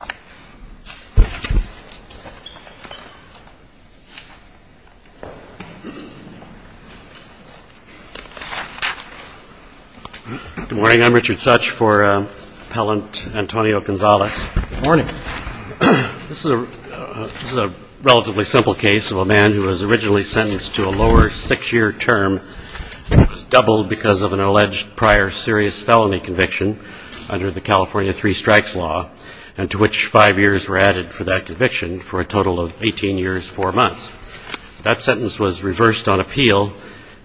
Good morning. This is a relatively simple case of a man who was originally sentenced to a lower six-year term. It was doubled because of an alleged prior serious felony conviction under the California Three Strikes Law, and to which five years were added for that conviction for a total of 18 years, four months. That sentence was reversed on appeal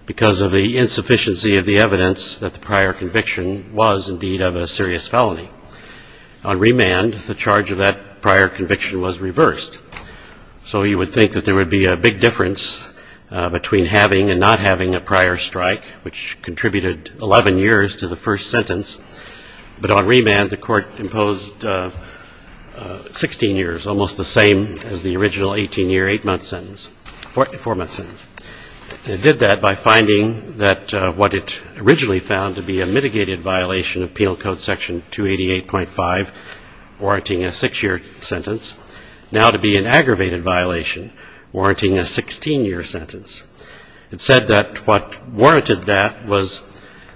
because of the insufficiency of the evidence that the prior conviction was, indeed, of a serious felony. On remand, the charge of that prior conviction was reversed. So you would think that there would be a big difference between having and not having a prior strike, which contributed 11 years to the first sentence. But on remand, the court imposed 16 years, almost the same as the original 18-year, four-month sentence. It did that by finding that what it originally found to be a mitigated violation of Penal Code Section 288.5, warranting a six-year sentence, now to be an aggravated violation, warranting a 16-year sentence. It said that what warranted that was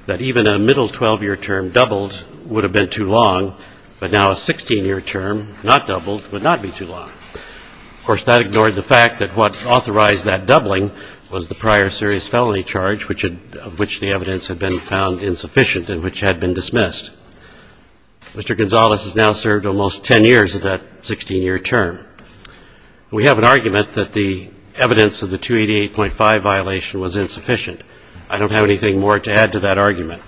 that even a middle 12-year term doubled would have been too long, but now a 16-year term, not doubled, would not be too long. Of course, that ignored the fact that what authorized that doubling was the prior serious felony charge, which the evidence had been found insufficient and which had been dismissed. Mr. Gonzalez has now served almost 10 years of that 16-year term. We have an argument that the evidence of the 288.5 violation was insufficient. I don't have anything more to add to that argument.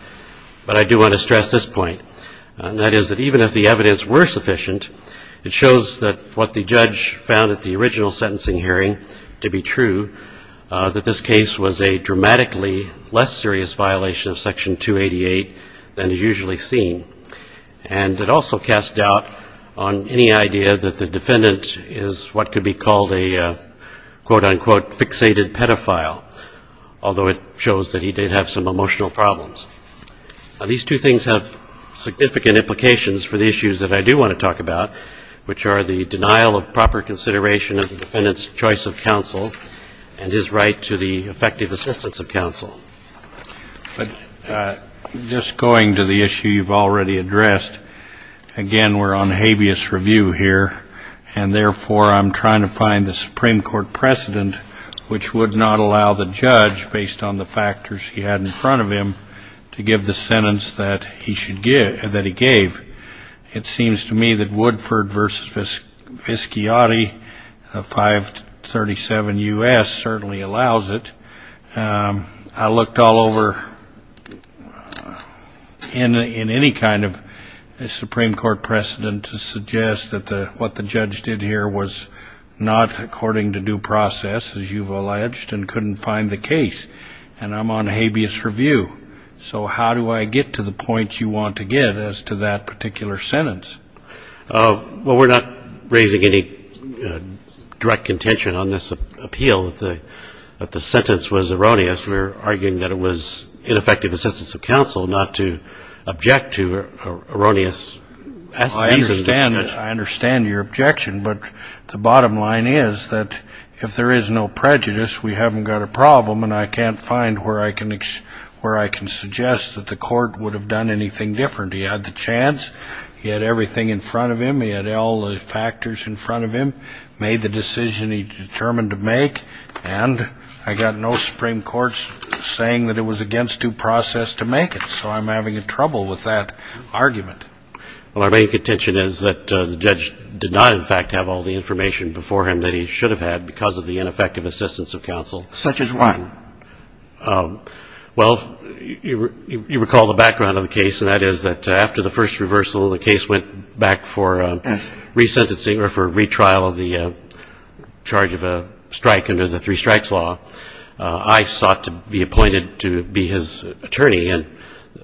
But I do want to stress this point, and that is that even if the evidence were sufficient, it shows that what the judge found at the original sentencing hearing to be true, that this case was a dramatically less serious violation of Section 288 than is usually seen. And it also casts doubt on any idea that the defendant is what could be called a, quote, unquote, fixated pedophile, although it shows that he did have some emotional problems. Now, these two things have significant implications for the issues that I do want to talk about, which are the denial of proper consideration of the defendant's choice of counsel and his right to the effective assistance of counsel. But just going to the issue you've already addressed, again, we're on habeas review here, and therefore I'm trying to find the Supreme Court precedent which would not allow the judge, based on the factors he had in front of him, to give the sentence that he should give, that he gave. It seems to me that Woodford v. Visciati of 537 U.S. certainly allows it. I looked all over in any kind of Supreme Court precedent to suggest that the what the judge did here was not according to due process, as you've alleged, and couldn't find the case. And I'm on habeas review. So how do I get to the point you want to get as to that particular sentence? Well, we're not raising any direct contention on this appeal, that the sentence was erroneous. We're arguing that it was ineffective assistance of counsel not to object to erroneous reasons. I understand your objection, but the bottom line is that if there is no prejudice, we haven't got a problem, and I can't find where I can suggest that the court would have done anything different. He had the chance. He had everything in front of him. He had all the factors in front of him, made the decision he determined to make, and I got no Supreme Court saying that it was against due process to make it. So I'm having trouble with that argument. Well, our main contention is that the judge did not, in fact, have all the information before him that he should have had because of the ineffective assistance of counsel. Such as what? Well, you recall the background of the case, and that is that after the first reversal, the case went back for re-sentencing or for retrial of the charge of a strike under the three strikes law. I sought to be appointed to be his attorney, and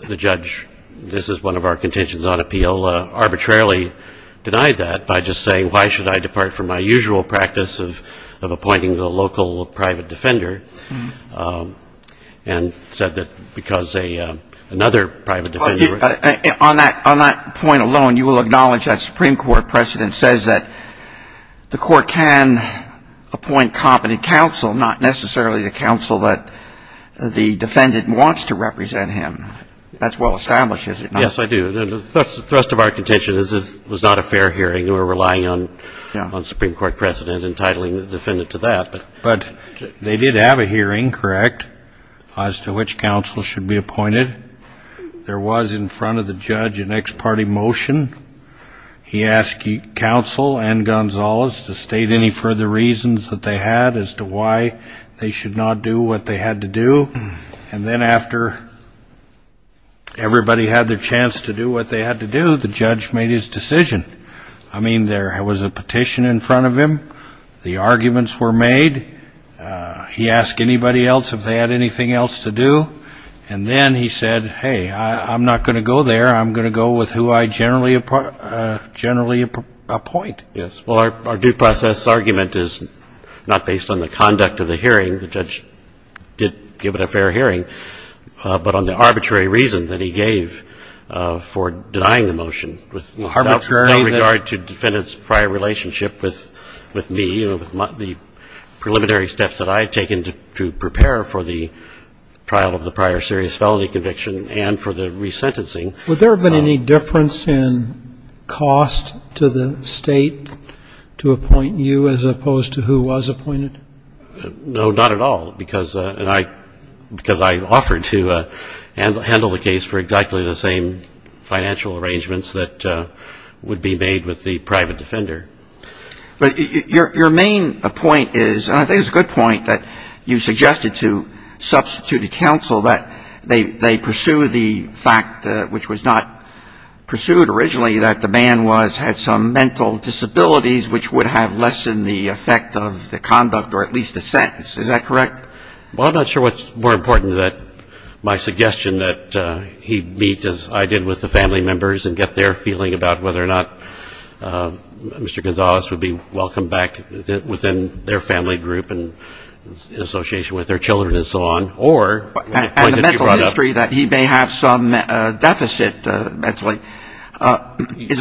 the judge, this is one of our contentions on appeal, arbitrarily denied that by just saying, why should I depart from my usual practice of appointing the local private defender, and said that because a another private defender would be. On that point alone, you will acknowledge that Supreme Court precedent says that the court can appoint competent counsel, not necessarily the counsel that the defendant wants to represent him. That's well established, is it not? Yes, I do. The rest of our contention is this was not a fair hearing. We're relying on Supreme Court precedent entitling the defendant to that. But they did have a hearing, correct, as to which counsel should be appointed. There was in front of the judge an ex parte motion. He asked counsel and Gonzalez to state any further reasons that they had as to why they should not do what they had to do. And then after everybody had their chance to do what they had to do, the judge made his decision. I mean, there was a petition in front of him. The arguments were made. He asked anybody else if they had anything else to do. And then he said, hey, I'm not going to go there. I'm going to go with who I generally appoint. Yes. Well, our due process argument is not based on the conduct of the hearing. The judge did give it a fair hearing. But on the arbitrary reason that he gave for denying the motion, without regard to defendant's prior relationship with me, with the preliminary steps that I had taken to prepare for the trial of the prior serious felony conviction and for the resentencing. Would there have been any difference in cost to the State to appoint you as opposed to who was appointed? No, not at all. Because I offered to handle the case for exactly the same financial arrangements that would be made with the private defender. But your main point is, and I think it's a good point, that you suggested to substituted counsel that they pursue the fact, which was not pursued originally, that the man had some mental disabilities, which would have lessened the effect of the conduct or at least the sentence. Is that correct? Well, I'm not sure what's more important, that my suggestion that he meet, as I did with the family members, and get their feeling about whether or not Mr. Gonzalez would be welcomed back within their family group in association with their children and so on, or appointed to be brought up.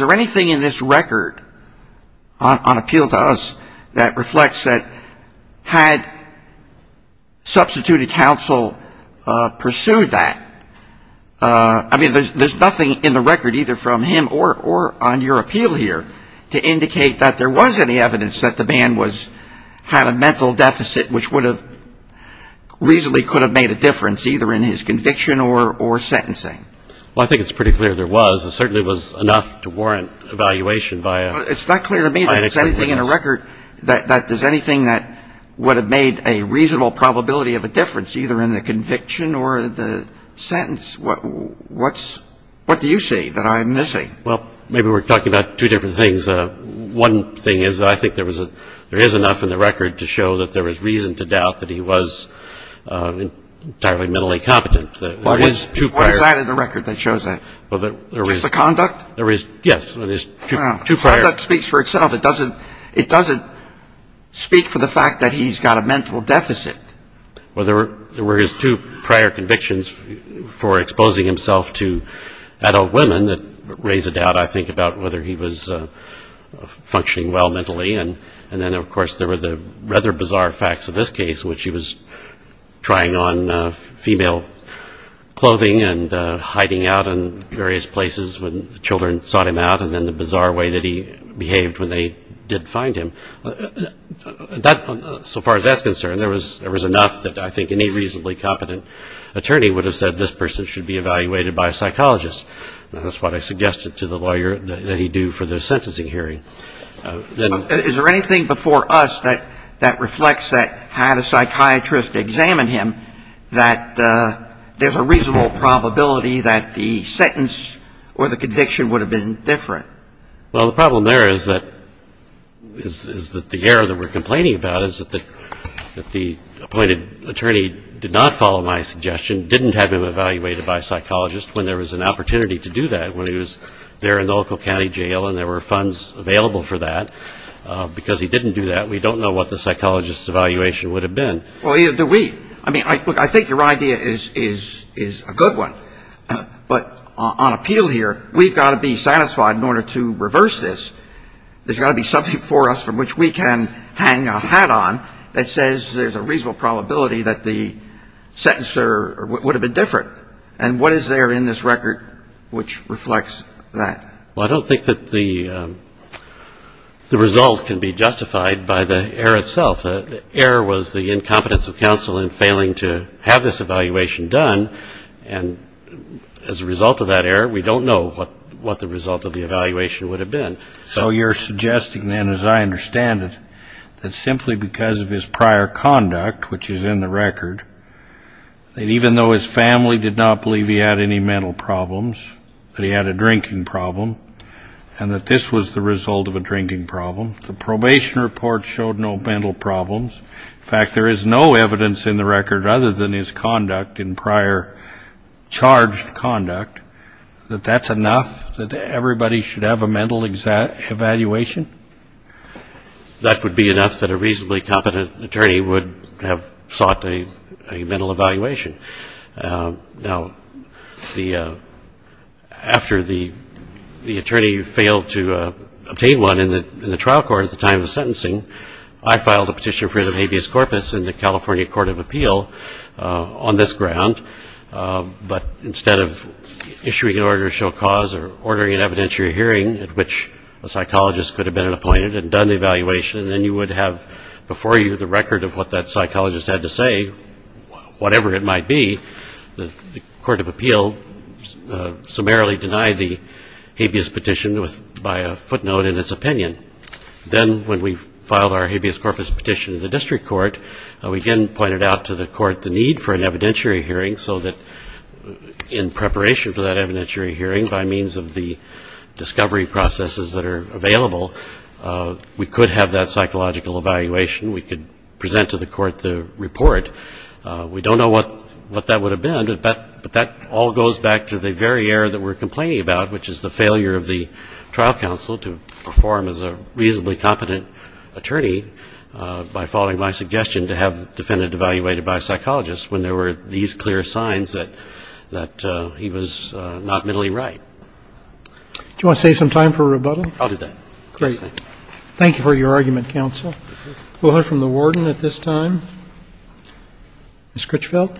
Is there anything in this record, on appeal to us, that reflects that had substituted counsel pursued that, I mean, there's nothing in the record, either from him or on your appeal here, to indicate that there was any evidence that the man had a mental deficit which would have reasonably could have made a difference, either in his conviction or sentencing? Well, I think it's pretty clear there was. It certainly was enough to warrant evaluation by an expert witness. It's not clear to me that there's anything in the record that does anything that would have made a reasonable probability of a difference, either in the conviction or the sentence. What do you see that I'm missing? Well, maybe we're talking about two different things. One thing is I think there is enough in the record to show that there is reason to doubt that he was entirely mentally competent. What is that in the record that shows that? Just the conduct? Yes. Conduct speaks for itself. It doesn't speak for the fact that he's got a mental deficit. Well, there were his two prior convictions for exposing himself to adult women that raise a doubt, I think, about whether he was functioning well mentally. And then, of course, there were the rather bizarre facts of this case, which he was trying on female clothing and hiding out in various places when children sought him out, and then the bizarre way that he behaved when they did find him. So far as that's concerned, there was enough that I think any reasonably competent attorney would have said this person should be evaluated by a psychologist. That's what I suggested to the lawyer that he do for the sentencing hearing. Is there anything before us that reflects that had a psychiatrist examined him, that there's a reasonable probability that the sentence or the conviction would have been different? Well, the problem there is that the error that we're complaining about is that the appointed attorney did not follow my suggestion, didn't have him evaluated by a psychologist when there was an opportunity to do that, when he was there in the local county jail and there were funds available for that. Because he didn't do that, we don't know what the psychologist's evaluation would have been. Well, either do we. I mean, look, I think your idea is a good one. But on appeal here, we've got to be satisfied in order to reverse this. There's got to be something before us from which we can hang a hat on that says there's a reasonable probability that the sentence or would have been different. And what is there in this record which reflects that? Well, I don't think that the result can be justified by the error itself. The error was the incompetence of counsel in failing to have this evaluation done. And as a result of that error, we don't know what the result of the evaluation would have been. So you're suggesting then, as I understand it, that simply because of his prior conduct, which is in the record, that even though his family did not believe he had any mental problems, that he had a drinking problem, and that this was the result of a drinking problem, the probation report showed no mental problems. In fact, there is no evidence in the record other than his conduct in prior charged conduct, that that's enough, that everybody should have a mental evaluation? That would be enough that a reasonably competent attorney would have sought a mental evaluation. Now, after the attorney failed to obtain one in the trial court at the time of the sentencing, I filed a petition for the habeas corpus in the California Court of Appeal on this ground. But instead of issuing an order of show cause or ordering an evidentiary hearing at which a psychologist could have been appointed and done the evaluation, then you would have before you the record of what that psychologist had to say, whatever it might be. The Court of Appeal summarily denied the habeas petition by a footnote in its opinion. Then when we filed our habeas corpus petition in the district court, we again pointed out to the court the need for an evidentiary hearing so that in preparation for that evidentiary hearing, by means of the discovery processes that are available, we could have that psychological evaluation, we could present to the court the report. We don't know what that would have been, but that all goes back to the very error that we're complaining about, which is the failure of the trial counsel to perform as a reasonably competent attorney by following my suggestion to have the defendant evaluated by a psychologist when there were these clear signs that he was not mentally Do you want to save some time for rebuttal? I'll do that. Great. Thank you. I'll defer your argument, counsel. We'll hear from the warden at this time. Ms. Critchfield?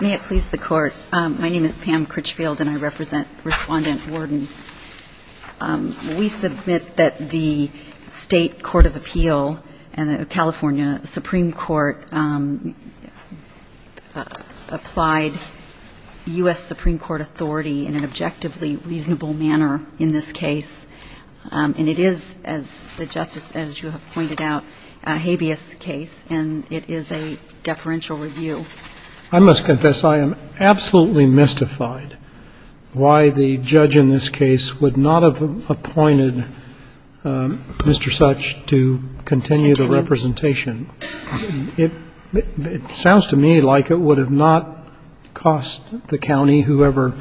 May it please the Court. My name is Pam Critchfield, and I represent Respondent Warden. We submit that the State Court of Appeal and the California Supreme Court applied U.S. Supreme Court authority in an objectively reasonable manner in this case. And it is, as the Justice, as you have pointed out, a habeas case, and it is a deferential review. I must confess I am absolutely mystified why the judge in this case would not have appointed Mr. Such to continue the representation. It sounds to me like it would have not cost the county, whoever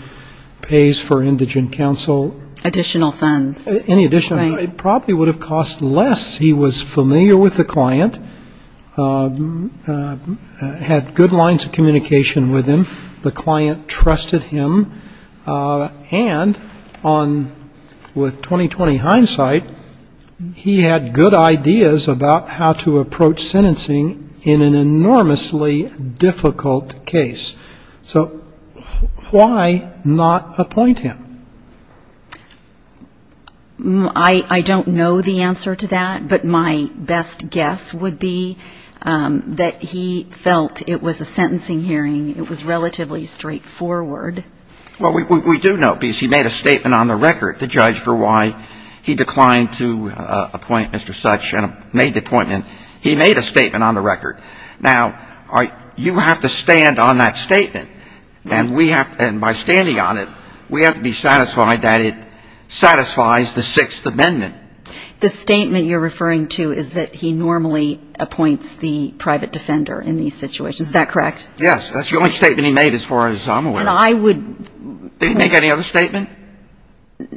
pays for indigent counsel Additional funds. Any additional. It probably would have cost less. He was familiar with the client, had good lines of communication with him, the client trusted him, and with 20-20 hindsight, he had good ideas about how to approach sentencing in an enormously difficult case. So why not appoint him? I don't know the answer to that, but my best guess would be that he felt it was a sentencing hearing. It was relatively straightforward. Well, we do know, because he made a statement on the record, the judge, for why he declined to appoint Mr. Such and made the appointment. He made a statement on the record. Now, you have to stand on that statement, and by standing on it, we have to be satisfied that it satisfies the Sixth Amendment. The statement you're referring to is that he normally appoints the private defender in these situations. Is that correct? Yes. That's the only statement he made as far as I'm aware. And I would Did he make any other statement?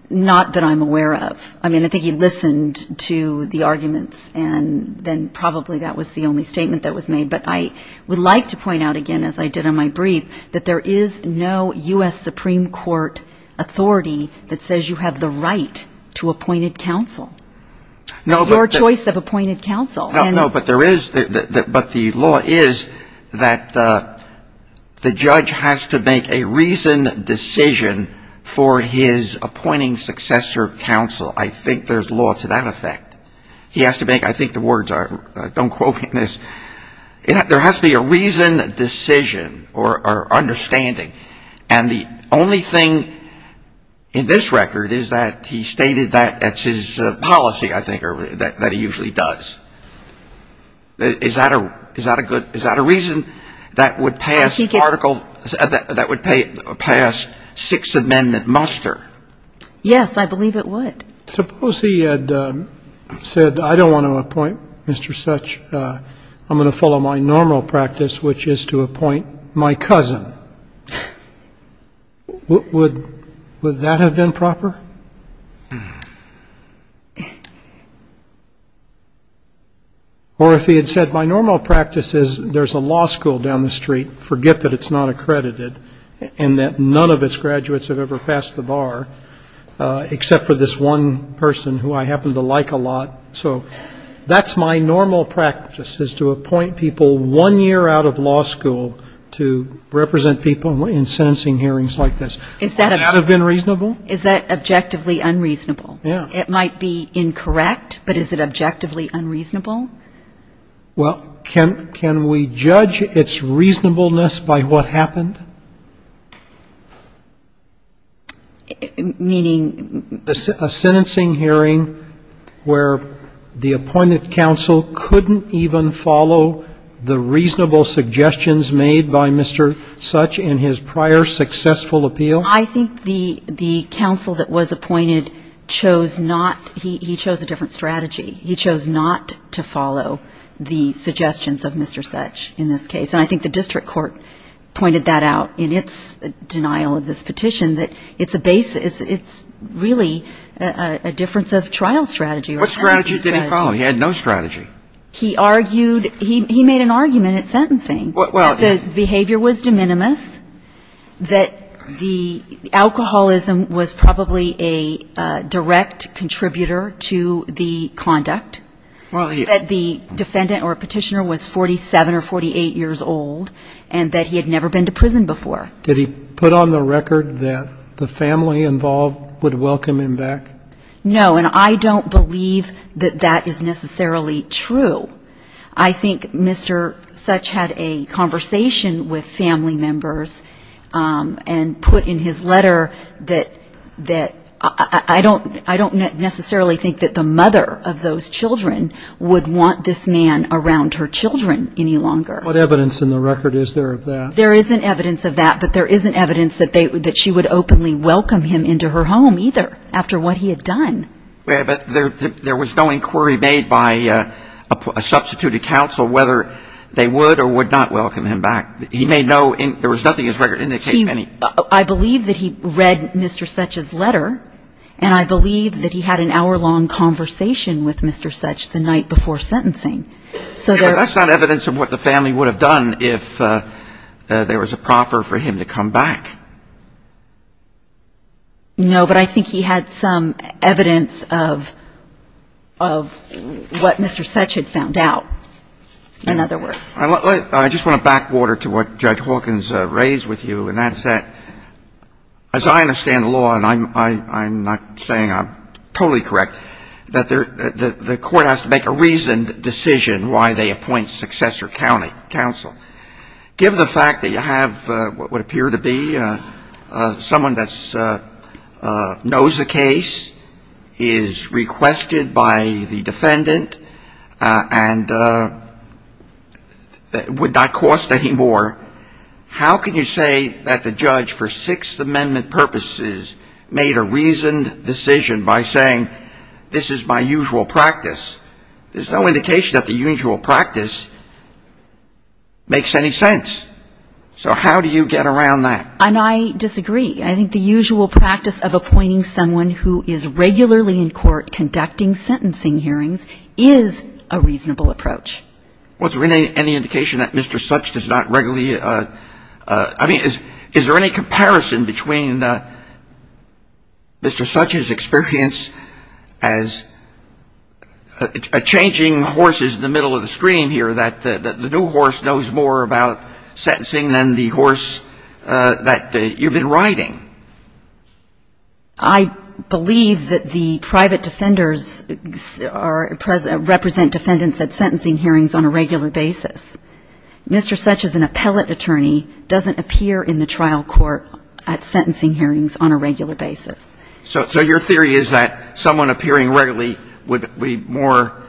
Not that I'm aware of. I mean, I think he listened to the arguments, and then probably that was the only statement that was made. But I would like to point out again, as I did on my brief, that there is no U.S. Supreme Court authority that says you have the right to appointed counsel. Your choice of appointed counsel. No, but there is. But the law is that the judge has to make a reasoned decision for his appointing successor counsel. I think there's law to that effect. He has to make a reasoned decision. I think the words are, don't quote me on this, there has to be a reasoned decision or understanding. And the only thing in this record is that he stated that that's his policy, I think, or that he usually does. Is that a good, is that a reason that would pass article, that would pass Sixth Amendment muster? Yes, I believe it would. Suppose he had said, I don't want to appoint Mr. Such, I'm going to follow my normal practice, which is to appoint my cousin. Would that have been proper? Or if he had said, my normal practice is there's a law school down the street, forget that it's not accredited, and that none of its graduates have ever passed the bar, except for this one person who I happen to like a lot. So that's my normal practice, is to appoint people one year out of law school to represent people in sentencing hearings like this. Would that have been reasonable? Is that objectively unreasonable? Yeah. It might be incorrect, but is it objectively unreasonable? Well, can we judge its reasonableness by what happened? Meaning? A sentencing hearing where the appointed counsel couldn't even follow the reasonable suggestions made by Mr. Such in his prior successful appeal? I think the counsel that was appointed chose not, he chose a different strategy. He chose not to follow the suggestions of Mr. Such in this case. And I think the district court pointed that out in its denial of this petition, that it's a basis, it's really a difference of trial strategy. What strategy did he follow? He had no strategy. He argued, he made an argument at sentencing that the behavior was de minimis, that the alcoholism was probably a direct contributor to the conduct, that the defendant or petitioner was 47 or 48 years old, and that he had never been to prison before. Did he put on the record that the family involved would welcome him back? No, and I don't believe that that is necessarily true. I think Mr. Such had a conversation with family members and put in his letter that I don't necessarily think that the mother of those children would want this man around her children any longer. What evidence in the record is there of that? There isn't evidence of that, but there isn't evidence that she would openly welcome him into her home either, after what he had done. But there was no inquiry made by a substituted counsel whether they would or would not welcome him back. He made no, there was nothing in his record indicating any. I believe that he read Mr. Such's letter, and I believe that he had an hour-long conversation with Mr. Such the night before sentencing. But that's not evidence of what the family would have done if there was a proffer for him to come back. No, but I think he had some evidence of what Mr. Such had found out, in other words. I just want to back water to what Judge Hawkins raised with you, and that's that, as I understand the law, and I'm not saying I'm totally correct, that the court has to make a reasoned decision why they appoint successor counsel. Given the fact that you have what would appear to be someone that knows the case, is requested by the defendant, and would not cost any more, how can you say that the judge for Sixth Amendment purposes made a reasoned decision by saying, this is my usual practice, makes any sense? So how do you get around that? And I disagree. I think the usual practice of appointing someone who is regularly in court conducting sentencing hearings is a reasonable approach. Was there any indication that Mr. Such does not regularly, I mean, is there any comparison between Mr. Such's experience as a changing horses in the middle of the stream here, that the new horse knows more about sentencing than the horse that you've been riding? I believe that the private defenders are present, represent defendants at sentencing hearings on a regular basis. Mr. Such as an appellate attorney doesn't appear in the trial court at sentencing hearings on a regular basis. So your theory is that someone appearing regularly would be more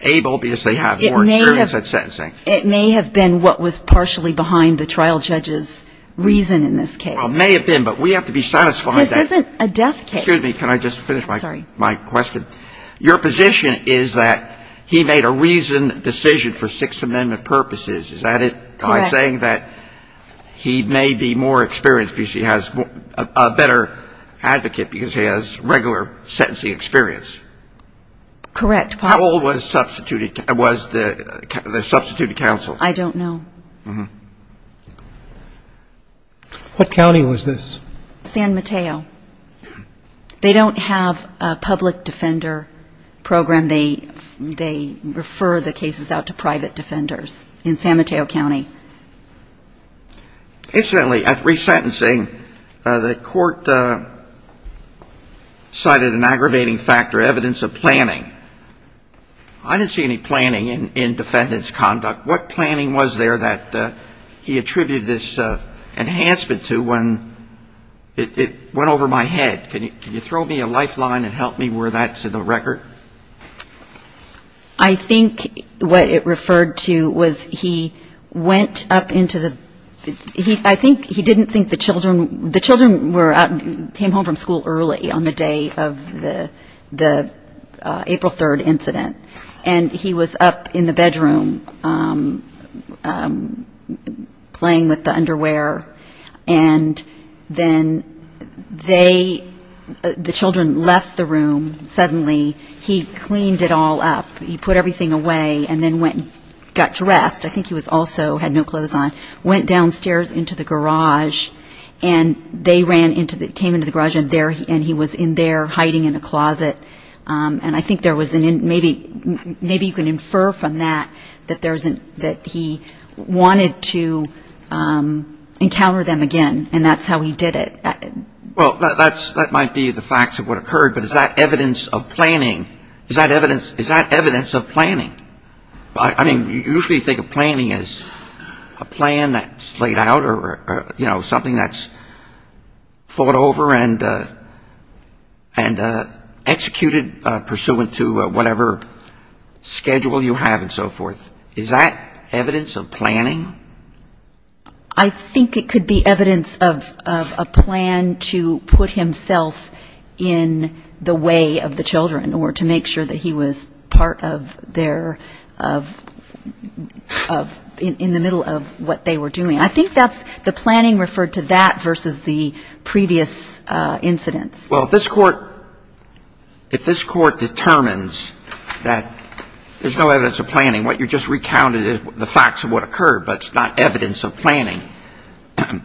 able, because they have more experience? It may have been what was partially behind the trial judge's reason in this case. Well, it may have been, but we have to be satisfied. This isn't a death case. Excuse me, can I just finish my question? Your position is that he made a reasoned decision for Sixth Amendment purposes, is that it? Correct. By saying that he may be more experienced because he has a better advocate because he has regular sentencing experience? Correct. How old was the substituted counsel? I don't know. What county was this? San Mateo. They don't have a public defender program. They refer the cases out to private defenders in San Mateo County. Incidentally, at resentencing, the court cited an aggravating factor, evidence of planning. I didn't see any planning in defendant's conduct. What planning was there that he attributed this enhancement to when it went over my head? Can you throw me a lifeline and help me where that's in the record? I think what it referred to was he went up into the, I think he didn't think the children came home from school early on the day of the April 3rd incident. And he was up in the bedroom playing with the underwear. And then they, the children left the room suddenly. He cleaned it all up. He put everything away and then went and got dressed. I think he was also, had no clothes on. Went downstairs into the garage and they ran into the, came into the garage and he was in there hiding in a closet. And I think there was, maybe you can infer from that, that he wanted to encounter them again. And that's how he did it. Well, that might be the facts of what occurred. But is that evidence of planning? Is that evidence of planning? I mean, usually you think of planning as a plan that's laid out or, you know, something that's thought over and executed pursuant to whatever schedule you have and so forth. Is that evidence of planning? I think it could be evidence of a plan to put himself in the way of the perpetrator of, in the middle of what they were doing. I think that's, the planning referred to that versus the previous incidents. Well, if this court, if this court determines that there's no evidence of planning, what you just recounted is the facts of what occurred, but it's not evidence of planning, do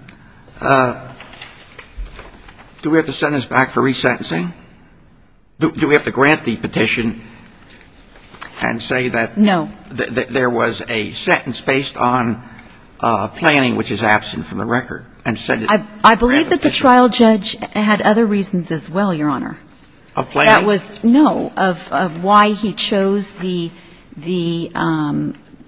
we have to send this back for resentencing? Do we have to grant the petition and say that there was a sentence based on planning which is absent from the record? I believe that the trial judge had other reasons as well, Your Honor. Of planning? No, of why he chose the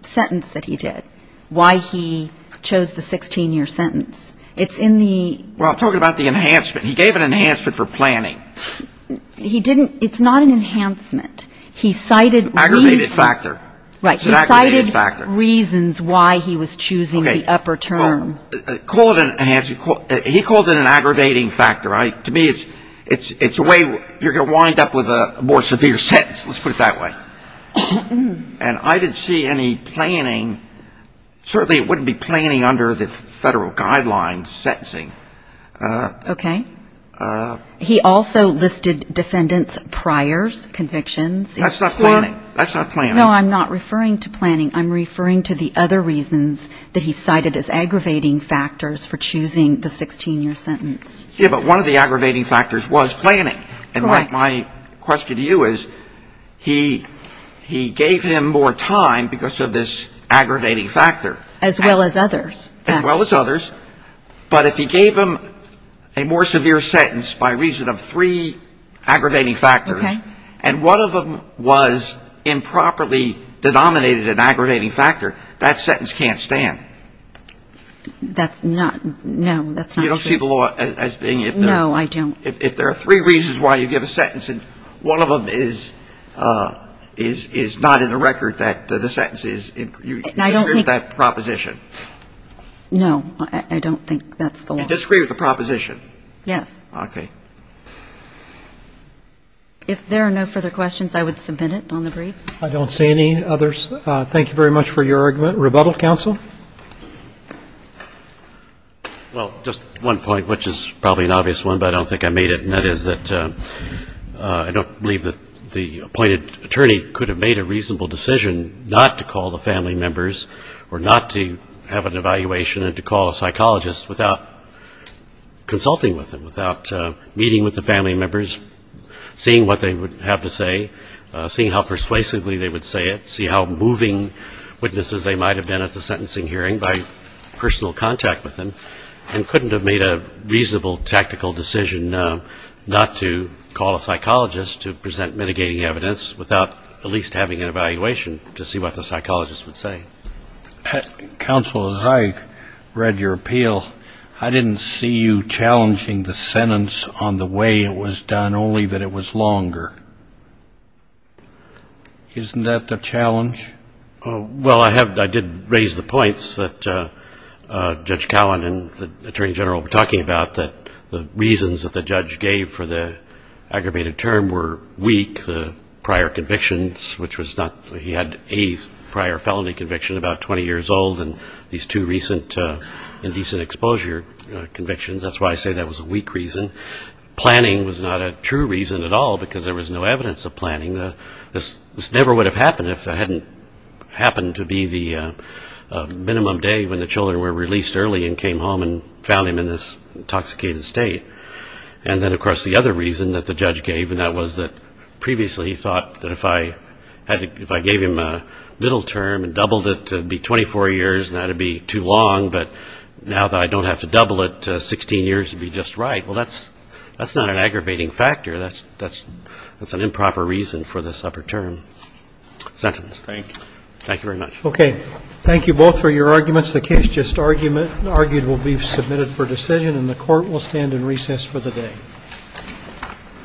sentence that he did. Why he chose the 16-year sentence. It's in the... Well, I'm talking about the enhancement. He gave an enhancement for planning. He didn't, it's not an enhancement. He cited reasons. Aggravated factor. Right. It's an aggravated factor. He cited reasons why he was choosing the upper term. Call it an enhancement, he called it an aggravating factor. To me, it's a way, you're going to wind up with a more severe sentence, let's put it that way. And I didn't see any planning, certainly it wouldn't be planning under the federal guidelines sentencing. Okay. He also listed defendant's priors convictions. That's not planning. That's not planning. No, I'm not referring to planning. I'm referring to the other reasons that he cited as aggravating factors for choosing the 16-year sentence. Yeah, but one of the aggravating factors was planning. Correct. And my question to you is, he gave him more time because of this aggravating factor. As well as others. As well as others. But if he gave him a more severe sentence by reason of three aggravating factors. Okay. And one of them was improperly denominated an aggravating factor, that sentence can't stand. That's not, no, that's not true. You don't see the law as being if there are. No, I don't. If there are three reasons why you give a sentence and one of them is not in the record that the sentence is. I don't think. You disregard that proposition. No, I don't think that's the law. You disagree with the proposition. Yes. Okay. If there are no further questions, I would submit it on the briefs. I don't see any others. Thank you very much for your argument. Rebuttal, counsel. Well, just one point, which is probably an obvious one, but I don't think I made it, and that is that I don't believe that the appointed attorney could have made a reasonable decision not to call the family members or not to have an evaluation and to call a psychologist without consulting with them, without meeting with the family members, seeing what they would have to say, seeing how persuasively they would say it, see how moving witnesses they might have been at the sentencing hearing by personal contact with them, and couldn't have made a reasonable tactical decision not to call a psychologist to present mitigating evidence without at least having an evaluation to see what the psychologist would say. Counsel, as I read your appeal, I didn't see you challenging the sentence on the way it was done, only that it was longer. Isn't that the challenge? Well, I did raise the points that Judge Callan and the Attorney General were talking about, that the reasons that the judge gave for the aggravated term were weak, the prior convictions, which was not, he had a prior felony conviction, about 20 years old, and these two recent indecent exposure convictions, that's why I say that was a weak reason. Planning was not a true reason at all, because there was no evidence of planning, this never would have happened if it hadn't happened to be the minimum day when the children were released early and came home and found him in this intoxicated state. And then, of course, the other reason that the judge gave, and that was that previously he thought that if I gave him a middle term and doubled it, it would be 24 years and that would be too long, but now that I don't have to double it, 16 years would be just right. Well, that's not an aggravating factor, that's an improper reason for this upper term sentence. Thank you. Thank you very much. Okay. Thank you both for your arguments. The case just argued will be submitted for decision and the Court will stand in recess for the day.